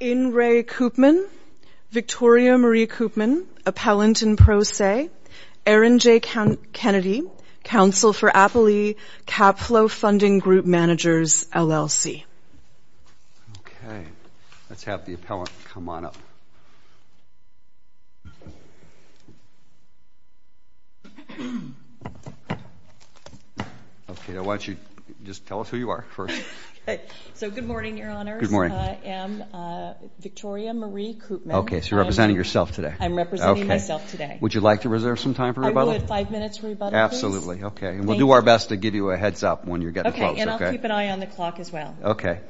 In re Coopman, Victoria Marie Coopman, Appellant in Pro Se, Erin J. Kennedy, Council for Appalee, CapFlo Funding Group Managers, LLC. Okay let's have the appellant come on up. Okay I want you just tell us who you are first. So good morning. I'm Victoria Marie Coopman. Okay so you're representing yourself today. I'm representing myself today. Would you like to reserve some time for rebuttal? I would. Five minutes for rebuttal please. Absolutely. Okay and we'll do our best to give you a heads up when you're getting close. Okay and I'll keep an eye on the clock as well. Okay.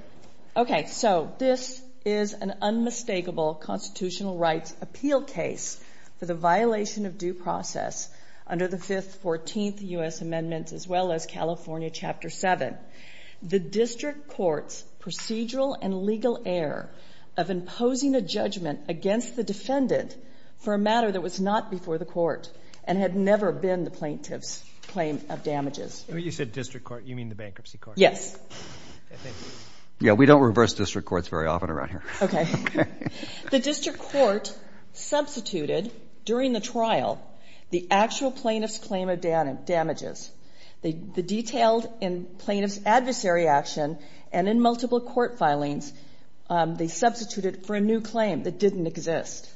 Okay so this is an unmistakable constitutional rights appeal case for the violation of due process under the 5th, 14th U.S. amendments as well as California Chapter 7. The district court's procedural and legal error of imposing a judgment against the defendant for a matter that was not before the court and had never been the plaintiff's claim of damages. You said district court, you mean the bankruptcy court? Yes. Yeah we don't reverse district courts very often around here. Okay. The district court substituted during the trial the actual plaintiff's claim of damages. They detailed in plaintiff's adversary action and in multiple court filings they substituted for a new claim that didn't exist.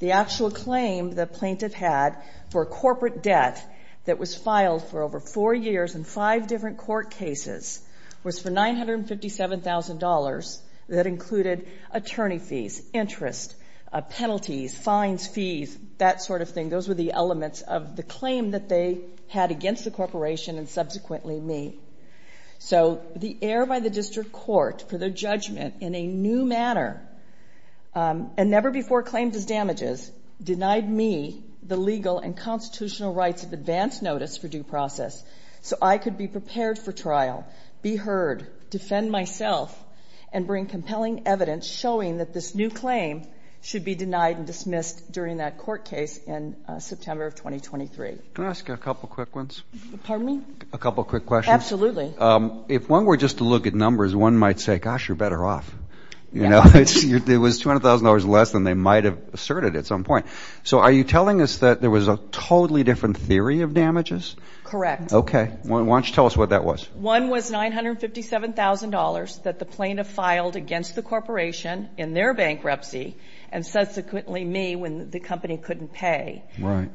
The actual claim the plaintiff had for corporate debt that was filed for over four years in five different court cases was for $957,000 that included attorney fees, interest, penalties, fines, fees, that sort of thing. Those were the elements of the claim that they had against the corporation and subsequently me. So the error by the district court for their judgment in a new manner and never before claimed as damages denied me the legal and constitutional rights of advance notice for due process so I could be prepared for trial, be heard, defend myself, and bring compelling evidence showing that this new claim should be denied and dismissed during that court case in September of 2023. Can I ask you a couple quick ones? Pardon me? A couple quick questions. Absolutely. If one were just to look at numbers one might say gosh you're better off. You know it was $200,000 less than they might have asserted at some point. So are you telling us that there was a totally different theory of damages? Correct. Okay. Why don't you tell us what that was? One was $957,000 that the plaintiff filed against the corporation in their bankruptcy and subsequently me when the company couldn't pay. Right.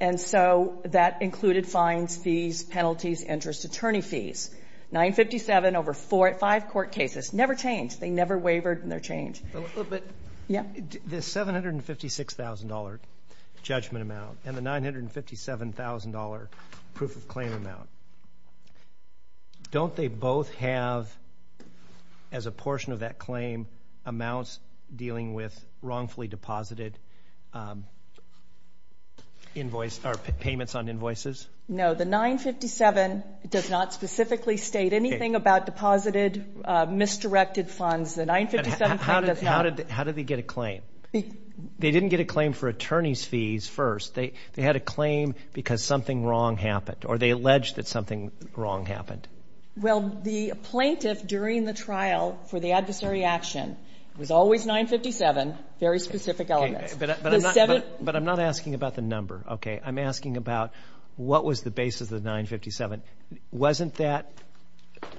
And so that included fines, fees, penalties, interest, attorney fees. $957,000 over five court cases. Never changed. They never wavered in their change. But the $756,000 judgment amount and the $957,000 proof of claim amount. Don't they both have as a portion of that claim amounts dealing with wrongfully deposited invoice or payments on invoices? No the 957 does not specifically state anything about deposited misdirected funds. The 957 How did they get a claim? They didn't get a claim for attorney's fees first. They had a claim because something wrong happened or they alleged that something wrong happened. Well the plaintiff during the trial for the adversary action was always 957. Very specific elements. But I'm not asking about the number. Okay. I'm asking about what was the basis of 957. Wasn't that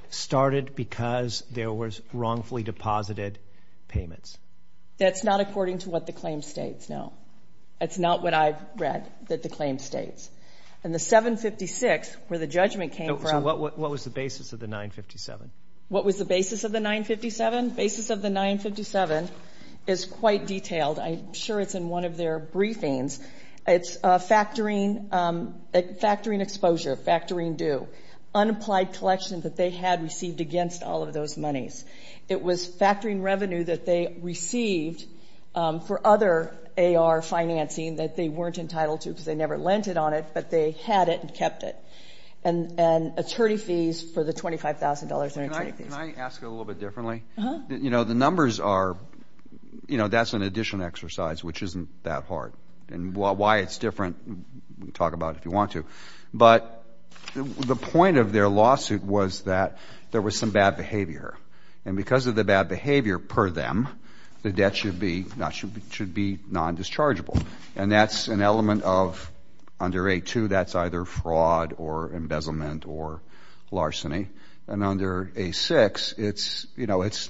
started because there was wrongfully deposited payments? That's not according to what the claim states. No. It's not what I've read that the claim states. And the 756 where the judgment came from. So what was the basis of the 957? What was the basis of the 957? Basis of the 957 is quite detailed. I'm sure it's in one of their briefings. It's factoring exposure, factoring due, unapplied collection that they had received against all of those monies. It was factoring revenue that they received for other AR financing that they weren't entitled to because they never lent it on it, but they had it and kept it. And attorney fees for the $25,000. Can I ask it a little bit differently? You know the numbers are you know that's an addition exercise which isn't that hard and why it's different. We can talk about it if you want to. But the point of their lawsuit was that there was some bad behavior. And because of the bad behavior per them, the debt should be not should be non-dischargeable. And that's an element of under A2 that's either fraud or embezzlement or larceny. And under A6 it's you know it's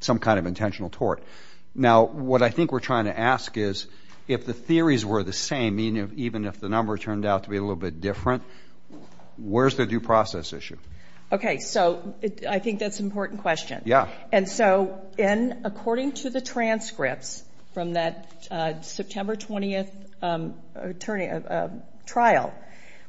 some kind of intentional tort. Now what I think we're trying to ask is if the theories were the same, even if the number turned out to be a little bit different, where's the due process issue? Okay so I think that's an important question. Yeah. And so in according to the transcripts from that September 20th trial,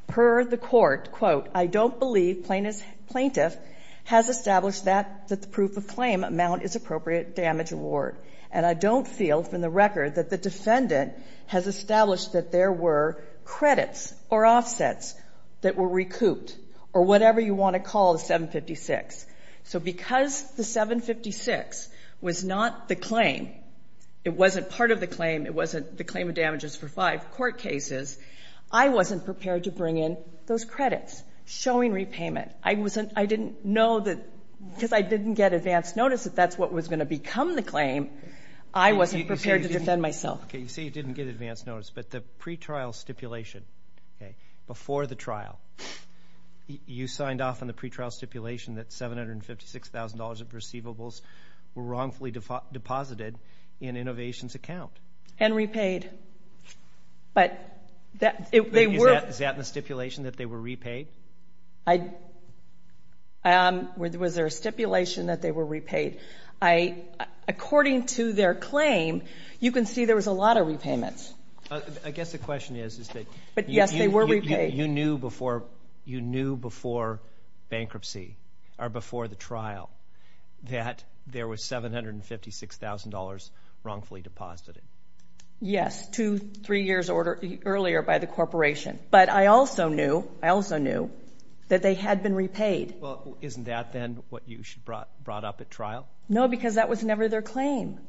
per the court, quote, I don't believe plaintiff has established that the proof of amount is appropriate damage award. And I don't feel from the record that the defendant has established that there were credits or offsets that were recouped or whatever you want to call the 756. So because the 756 was not the claim, it wasn't part of the claim, it wasn't the claim of damages for five court cases, I wasn't prepared to bring in those credits showing repayment. I didn't know that because I didn't get advance notice that that's what was going to become the claim. I wasn't prepared to defend myself. Okay you say you didn't get advance notice, but the pre-trial stipulation, okay, before the trial, you signed off on the pre-trial stipulation that $756,000 of receivables were wrongfully deposited in Innovations' account. And repaid. But they were. Is that in the stipulation that they were repaid? Um, was there a stipulation that they were repaid? I, according to their claim, you can see there was a lot of repayments. I guess the question is, is that. But yes, they were repaid. You knew before, you knew before bankruptcy, or before the trial, that there was $756,000 wrongfully deposited. Yes, two, three years order earlier by the corporation. But I also knew, I also knew, that they had been repaid. Well, isn't that then what you should brought up at trial? No, because that was never their claim.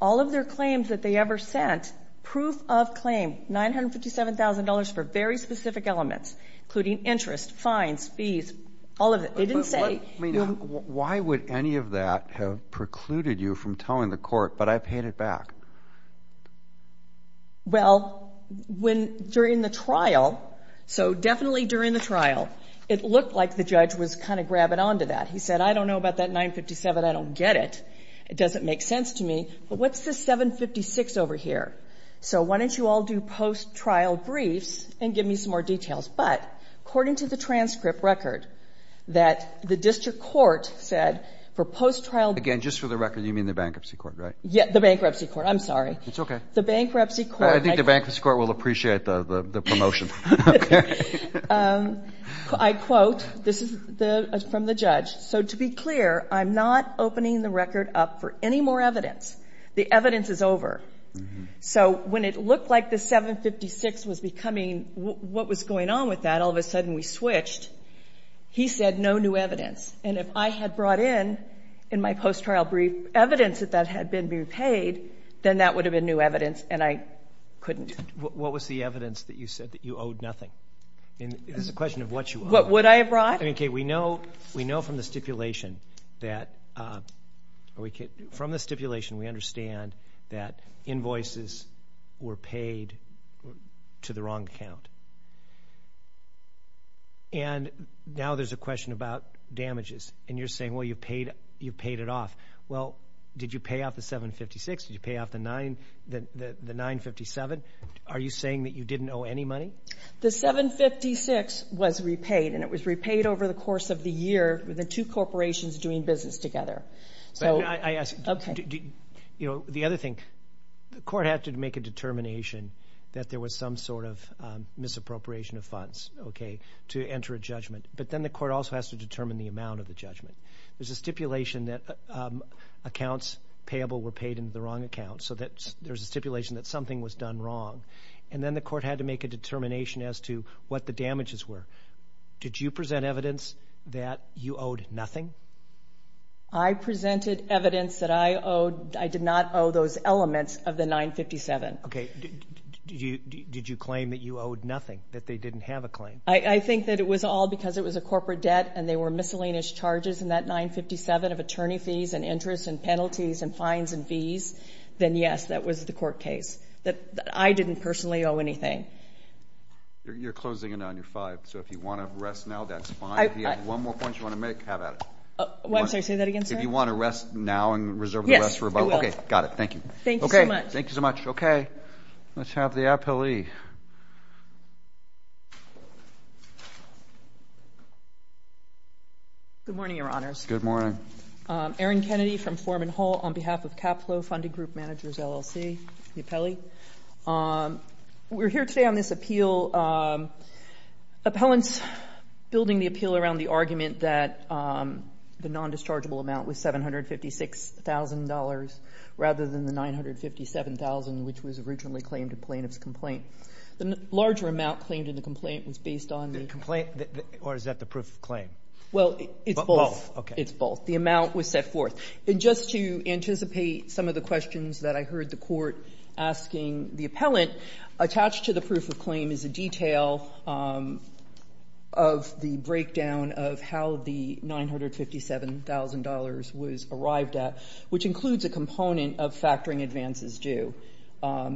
All of their claims that they ever sent, proof of claim, $957,000 for very specific elements, including interest, fines, fees, all of it. They didn't say. Why would any of that have precluded you from telling the court, but I paid it back? Well, when during the trial, so definitely during the trial, it looked like the judge was kind of grabbing onto that. He said, I don't know about that $957,000. I don't get it. It doesn't make sense to me. But what's this $756,000 over here? So why don't you all do post-trial briefs and give me some more details. But according to the transcript record, that the district court said for post-trial. Again, just for the record, you mean the bankruptcy court, right? Yeah, bankruptcy court. I'm sorry. It's okay. The bankruptcy court. I think the bankruptcy court will appreciate the promotion. I quote, this is from the judge. So to be clear, I'm not opening the record up for any more evidence. The evidence is over. So when it looked like the $756,000 was becoming what was going on with that, all of a sudden we switched. He said, no new evidence. And if I had brought in, in my post-trial brief, evidence that that had been repaid, then that would have been new evidence and I couldn't. What was the evidence that you said that you owed nothing? It's a question of what you owe. What would I have brought? Okay, we know from the stipulation that, from the stipulation, we understand that invoices were paid to the wrong account. And now there's a question about damages and you're saying, well, you paid it off. Well, did you pay off the $756,000? Did you pay off the $957,000? Are you saying that you didn't owe any money? The $756,000 was repaid and it was repaid over the course of the year with the two corporations doing business together. The other thing, the court had to make a determination that there was some sort of misappropriation of funds to enter a judgment. But then the court also has to determine the amount of the judgment. There's a stipulation that accounts payable were paid into the wrong account, so there's a stipulation that something was done wrong. And then the court had to make a determination as to what the damages were. Did you present evidence that you owed nothing? I presented evidence that I did not owe those elements of the $957,000. Okay. Did you claim that you owed nothing, that they didn't have a claim? I think that it was all because it was a corporate debt and they were miscellaneous charges in that $957,000 of attorney fees and interest and penalties and fines and fees, then yes, that was the court case. I didn't personally owe anything. You're closing in on your five, so if you want to rest now, that's fine. If you have one more point you want to make, have at it. What? I'm sorry, say that again, sir? If you want to rest now and reserve the rest for about... Yes, I will. Okay, got it. Thank you. Thank you so much. Okay. Let's have the appellee. Good morning, Your Honors. Good morning. Erin Kennedy from Foreman Hall on behalf of Caplo Funding Group Managers LLC, the appellee. We're here today on this appeal. Appellants building the appeal around the argument that the non-dischargeable amount was $756,000 rather than the $957,000 which was originally claimed in plaintiff's complaint. The larger amount claimed in the complaint was based on... The complaint or is that the proof of claim? Well, it's both. Both, okay. It's both. The amount was set forth. And just to anticipate some of the questions that I heard the court asking the appellant, attached to the proof of claim is a detail of the breakdown of how the $957,000 was arrived at, which includes a component of factoring advances due.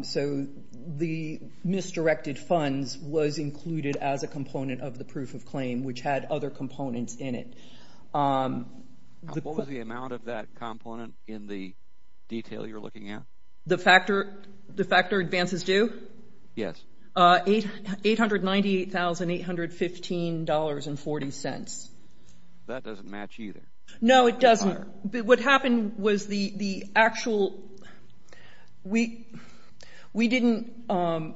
So the misdirected funds was included as a component of the proof of claim, which had other components in it. What was the amount of that component in the detail you're looking at? The factor advances due? Yes. $898,815.40. That doesn't match either. No, it doesn't. But what happened was the actual... We didn't go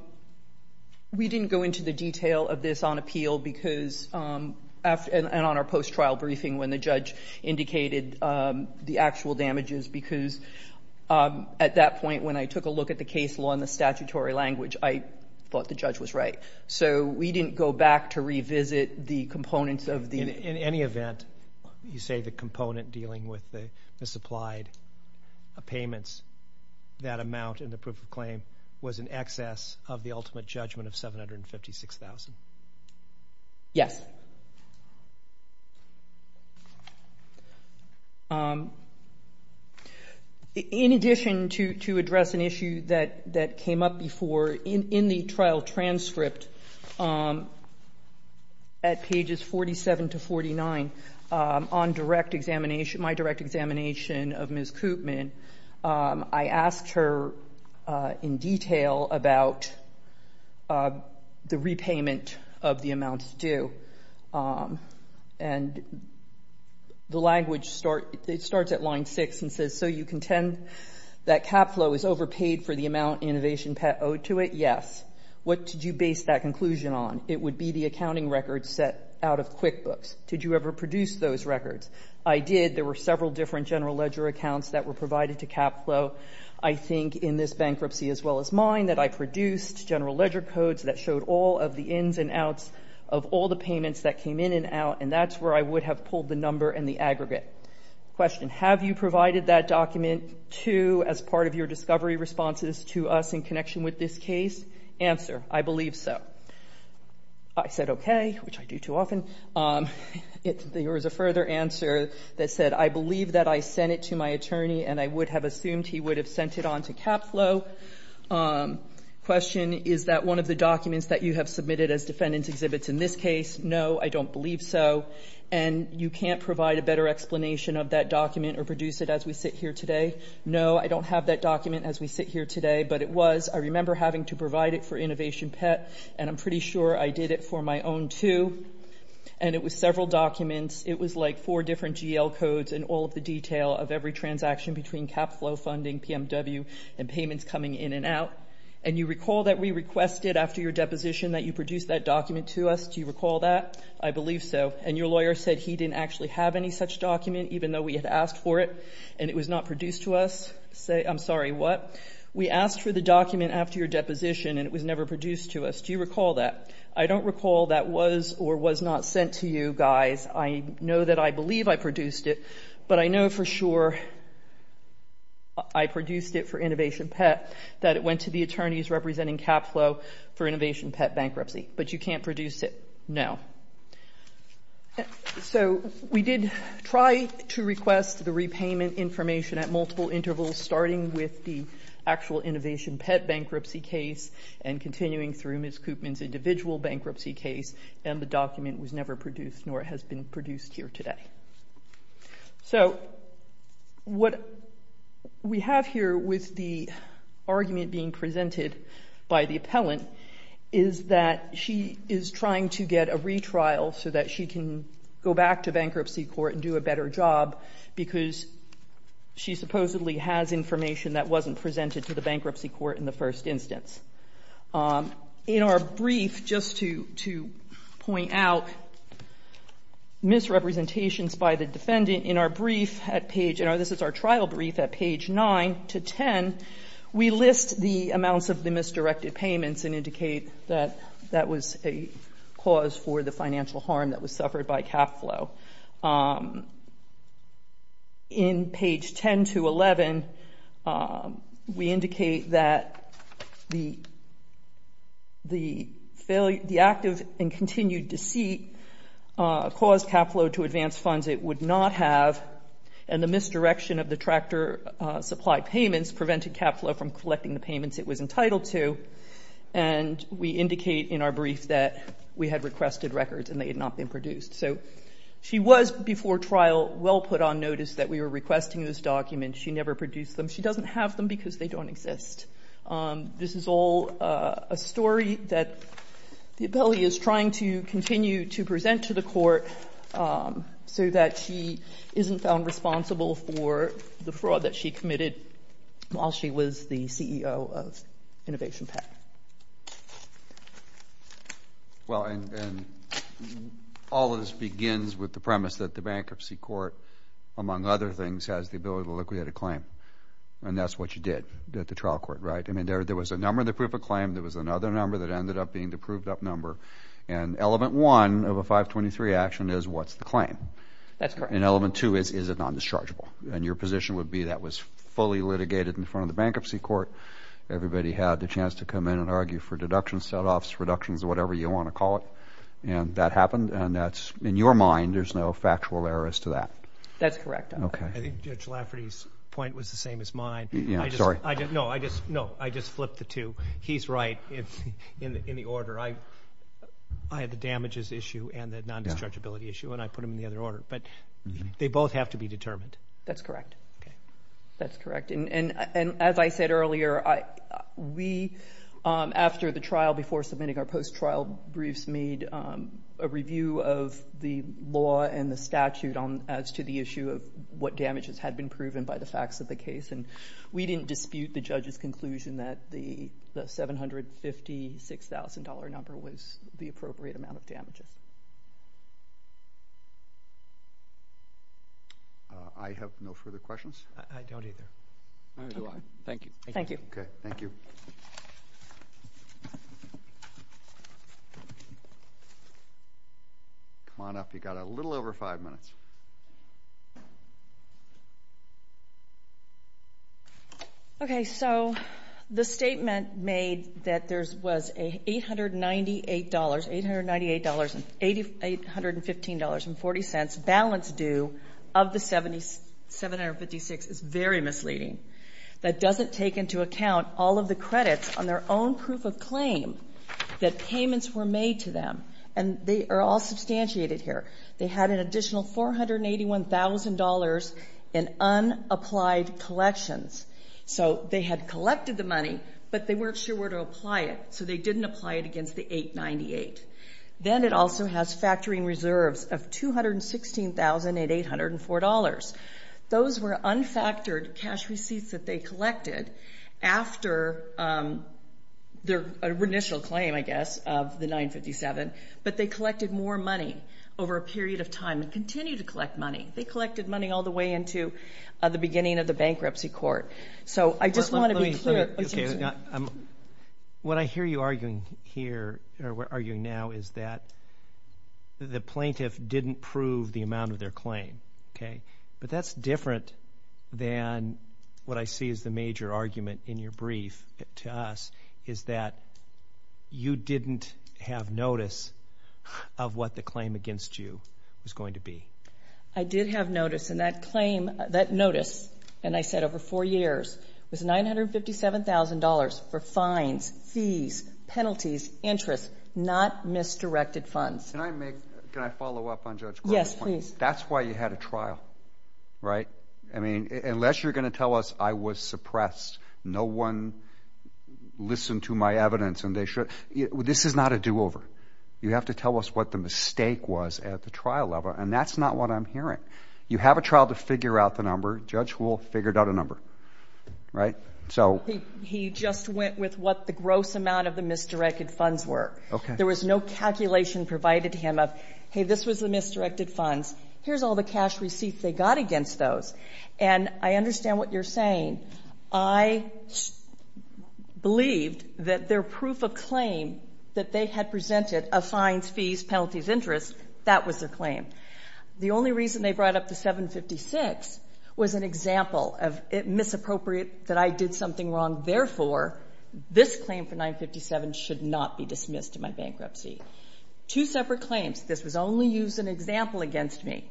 into the detail of this on appeal and on our post-trial briefing when the judge indicated the actual damages because at that point when I took a look at the case law in the trial, I thought the judge was right. So we didn't go back to revisit the components of the... In any event, you say the component dealing with the supplied payments, that amount in the proof of claim was in excess of the ultimate judgment of $756,000. Yes. In addition to address an issue that came up before, in the trial transcript at pages 47 to 49, on my direct examination of Ms. Koopman, I asked her in detail about the repayment of the amounts due. And the language starts at line six and says, so you contend that CapFlo is overpaid for the amount Innovation Pet owed to it? Yes. What did you base that conclusion on? It would be the accounting records set out of QuickBooks. Did you ever produce those records? I did. There were several different general ledger accounts that were provided to CapFlo. I think in this bankruptcy as well as mine that I produced general ledger codes that showed all of the ins and outs of all the payments that came in and out, and that's where I would have pulled the number and the aggregate. Question. Have you provided that document to, as part of your discovery responses, to us in connection with this case? Answer. I believe so. I said okay, which I do too often. There was a further answer that said, I believe that I sent it to my attorney and I would have assumed he would have sent it on to CapFlo. Question. Is that one of the documents that you have submitted as defendant's exhibits in this case? No, I don't believe so. And you can't provide a better explanation of that document or produce it as we sit here today? No, I don't have that document as we sit here today, but it was. I remember having to provide it for Innovation Pet and I'm pretty sure I did it for my own too. And it was several documents. It was like four different GL codes and all of the detail of every transaction between CapFlo funding, PMW, and payments coming in and out. And you recall that we requested after your deposition that you produce that document to us. Do you recall that? I believe so. And your lawyer said he didn't actually have any such document, even though we had asked for it and it was not produced to us. I'm sorry, what? We asked for the document after your deposition and it was never produced to us. Do you recall that? I don't recall that was or was not sent to you guys. I know that I believe I produced it, but I know for sure I produced it for Innovation Pet that it went to the attorneys representing CapFlo for Innovation Pet bankruptcy. But you can't produce it now. So we did try to request the repayment information at multiple intervals, starting with the actual Innovation Pet bankruptcy case and continuing through Ms. Koopman's individual bankruptcy case. And the document was never produced nor has been produced here today. So what we have here with the argument being presented by the appellant is that she is trying to get a retrial so that she can go back to bankruptcy court and do a better job because she supposedly has information that wasn't presented to the bankruptcy court in the first instance. In our brief, just to point out misrepresentations by the defendant in our brief at page, this is our trial brief at page 9 to 10, we list the amounts of the misdirected payments and indicate that that was a cause for the financial harm that was suffered by CapFlo. In page 10 to 11, we indicate that the active and continued deceit caused CapFlo to advance funds it would not have and the misdirection of the tractor supply payments prevented CapFlo from collecting the payments it was entitled to. And we indicate in our brief that we had requested records and they had not been produced. So she was before trial well put on notice that we were requesting this document. She never produced them. She doesn't have them because they don't exist. This is all a story that the appellee is trying to continue to present to the court so that she isn't found responsible for the fraud that she committed while she was the CEO of Innovation PAC. Well, and all of this begins with the premise that the bankruptcy court, among other things, has the ability to liquidate a claim. And that's what you did at the trial court, right? I mean, there was a number of the proof of claim. There was another number that ended up being the proved up number. And element one of a 523 action is what's the claim? That's correct. And element two is, is it non-dischargeable? And your position would be that was fully litigated in front of the bankruptcy court. Everybody had the chance to come in and argue for deductions, set-offs, reductions, whatever you want to call it. And that happened. And that's, in your mind, there's no factual errors to that. That's correct. Okay. I think Judge Lafferty's point was the same as mine. No, I just flipped the two. He's right in the order. I had the damages issue and the non-dischargeability issue, and I put them in the other order. But they both have to be determined. That's correct. Okay. That's correct. And as I said earlier, we, after the trial, before submitting our post-trial briefs, made a review of the law and the statute as to the issue of what damages had been proven by the facts of the case. And we didn't dispute the judge's conclusion that the $756,000 number was the appropriate amount of damages. I have no further questions. I don't either. Thank you. Thank you. Thank you. Come on up. You've got a little over five minutes. Okay. So the statement made that there was a $898, $815.40 balance due of the $756,000 is very misleading. That doesn't take into account all of the credits on their own proof of claim that payments were made to them. And they are all substantiated here. They had an additional $481,000 in unapplied collections. So they had collected the money, but they weren't sure where to apply it. So they didn't apply it against the $898,000. Then it also has factoring reserves of $216,804. Those were unfactored cash receipts that they collected after their initial claim, I guess, of the 957. But they collected more money over a period of time and continue to collect money. They collected money all the way into the beginning of the bankruptcy court. So I just want to be clear. What I hear you arguing here or arguing now is that the plaintiff didn't prove the amount of their claim. But that's different than what I see as the major argument in your brief to us, is that you didn't have notice of what the claim against you was going to be. I did have notice. And that claim, that notice, and I said over four years, was $957,000 for fines, fees, penalties, interest, not misdirected funds. Can I follow up on Judge Grubb's point? Yes, please. That's why you had a trial, right? I mean, unless you're going to tell us I was suppressed, no one listened to my evidence and they should. This is not a do-over. You have to tell us what the mistake was at the trial level. And that's not what I'm hearing. You have a trial to figure out the number. Judge Wolff figured out a number, right? So he just went with what the gross amount of the misdirected funds were. There was no calculation provided to him of, hey, this was the misdirected funds. Here's all the cash receipts they got against those. And I understand what you're saying. I believed that their proof of claim that they had presented of fines, fees, penalties, interest, that was their claim. The only reason they brought up the $756,000 was an example of it misappropriate that I did something wrong. Therefore, this claim for $957,000 should not be dismissed in my bankruptcy. Two separate claims. This was only used as an example against me.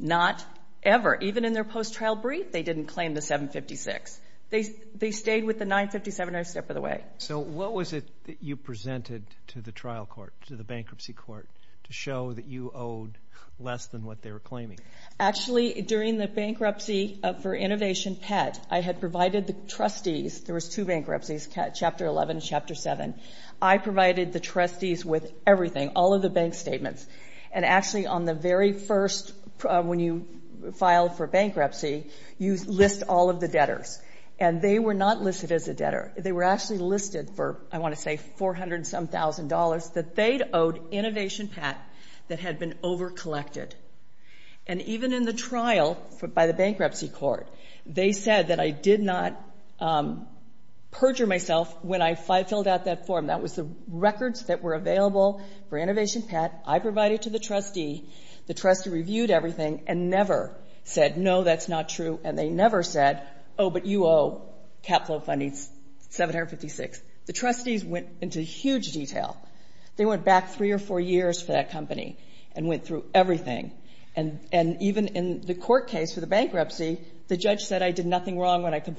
Not ever. Even in their post-trial brief, they didn't claim the $756,000. They stayed with the $957,000 every step of the way. So what was it that you presented to the trial court, to the bankruptcy court, to show that you owed less than what they were claiming? Actually, during the bankruptcy for Innovation Pet, I had provided the trustees. There was two bankruptcies, Chapter 11 and Chapter 7. I provided the trustees with everything. All of the bank statements. And actually, on the very first, when you filed for bankruptcy, you list all of the debtors. And they were not listed as a debtor. They were actually listed for, I want to say, $400-some-thousand that they owed Innovation Pet that had been overcollected. And even in the trial by the bankruptcy court, they said that I did not perjure myself when I filled out that form. That was the records that were available for Innovation Pet. I provided to the trustee. The trustee reviewed everything and never said, no, that's not true. And they never said, oh, but you owe capital funding $756,000. The trustees went into huge detail. They went back three or four years for that company and went through everything. And even in the court case for the bankruptcy, the judge said I did nothing wrong when I You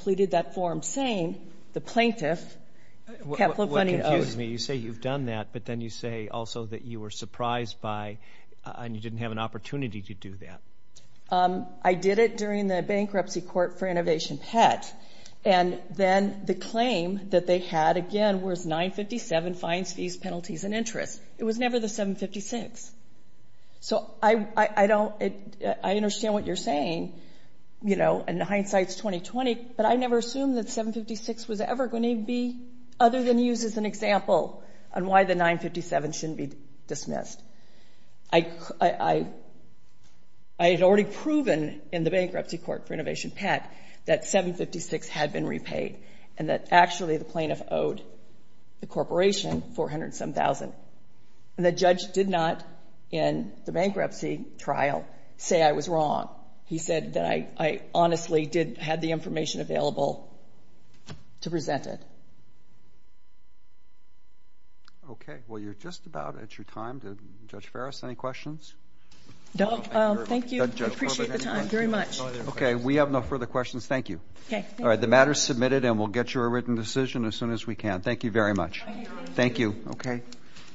say you've done that, but then you say also that you were surprised by and you didn't have an opportunity to do that. I did it during the bankruptcy court for Innovation Pet. And then the claim that they had, again, was $957,000, fines, fees, penalties, and interest. It was never the $756,000. So I understand what you're saying. And hindsight's 20-20, but I never assumed that $756,000 was ever going to be, other than used as an example on why the $957,000 shouldn't be dismissed. I had already proven in the bankruptcy court for Innovation Pet that $756,000 had been repaid and that actually the plaintiff owed the corporation $407,000. And the judge did not, in the bankruptcy trial, say I was wrong. He said that I honestly did have the information available to present it. Okay. Well, you're just about at your time. Judge Farris, any questions? Thank you. I appreciate the time very much. Okay. We have no further questions. Thank you. Okay. All right. The matter's submitted and we'll get you a written decision as soon as we can. Thank you very much. Thank you. Okay.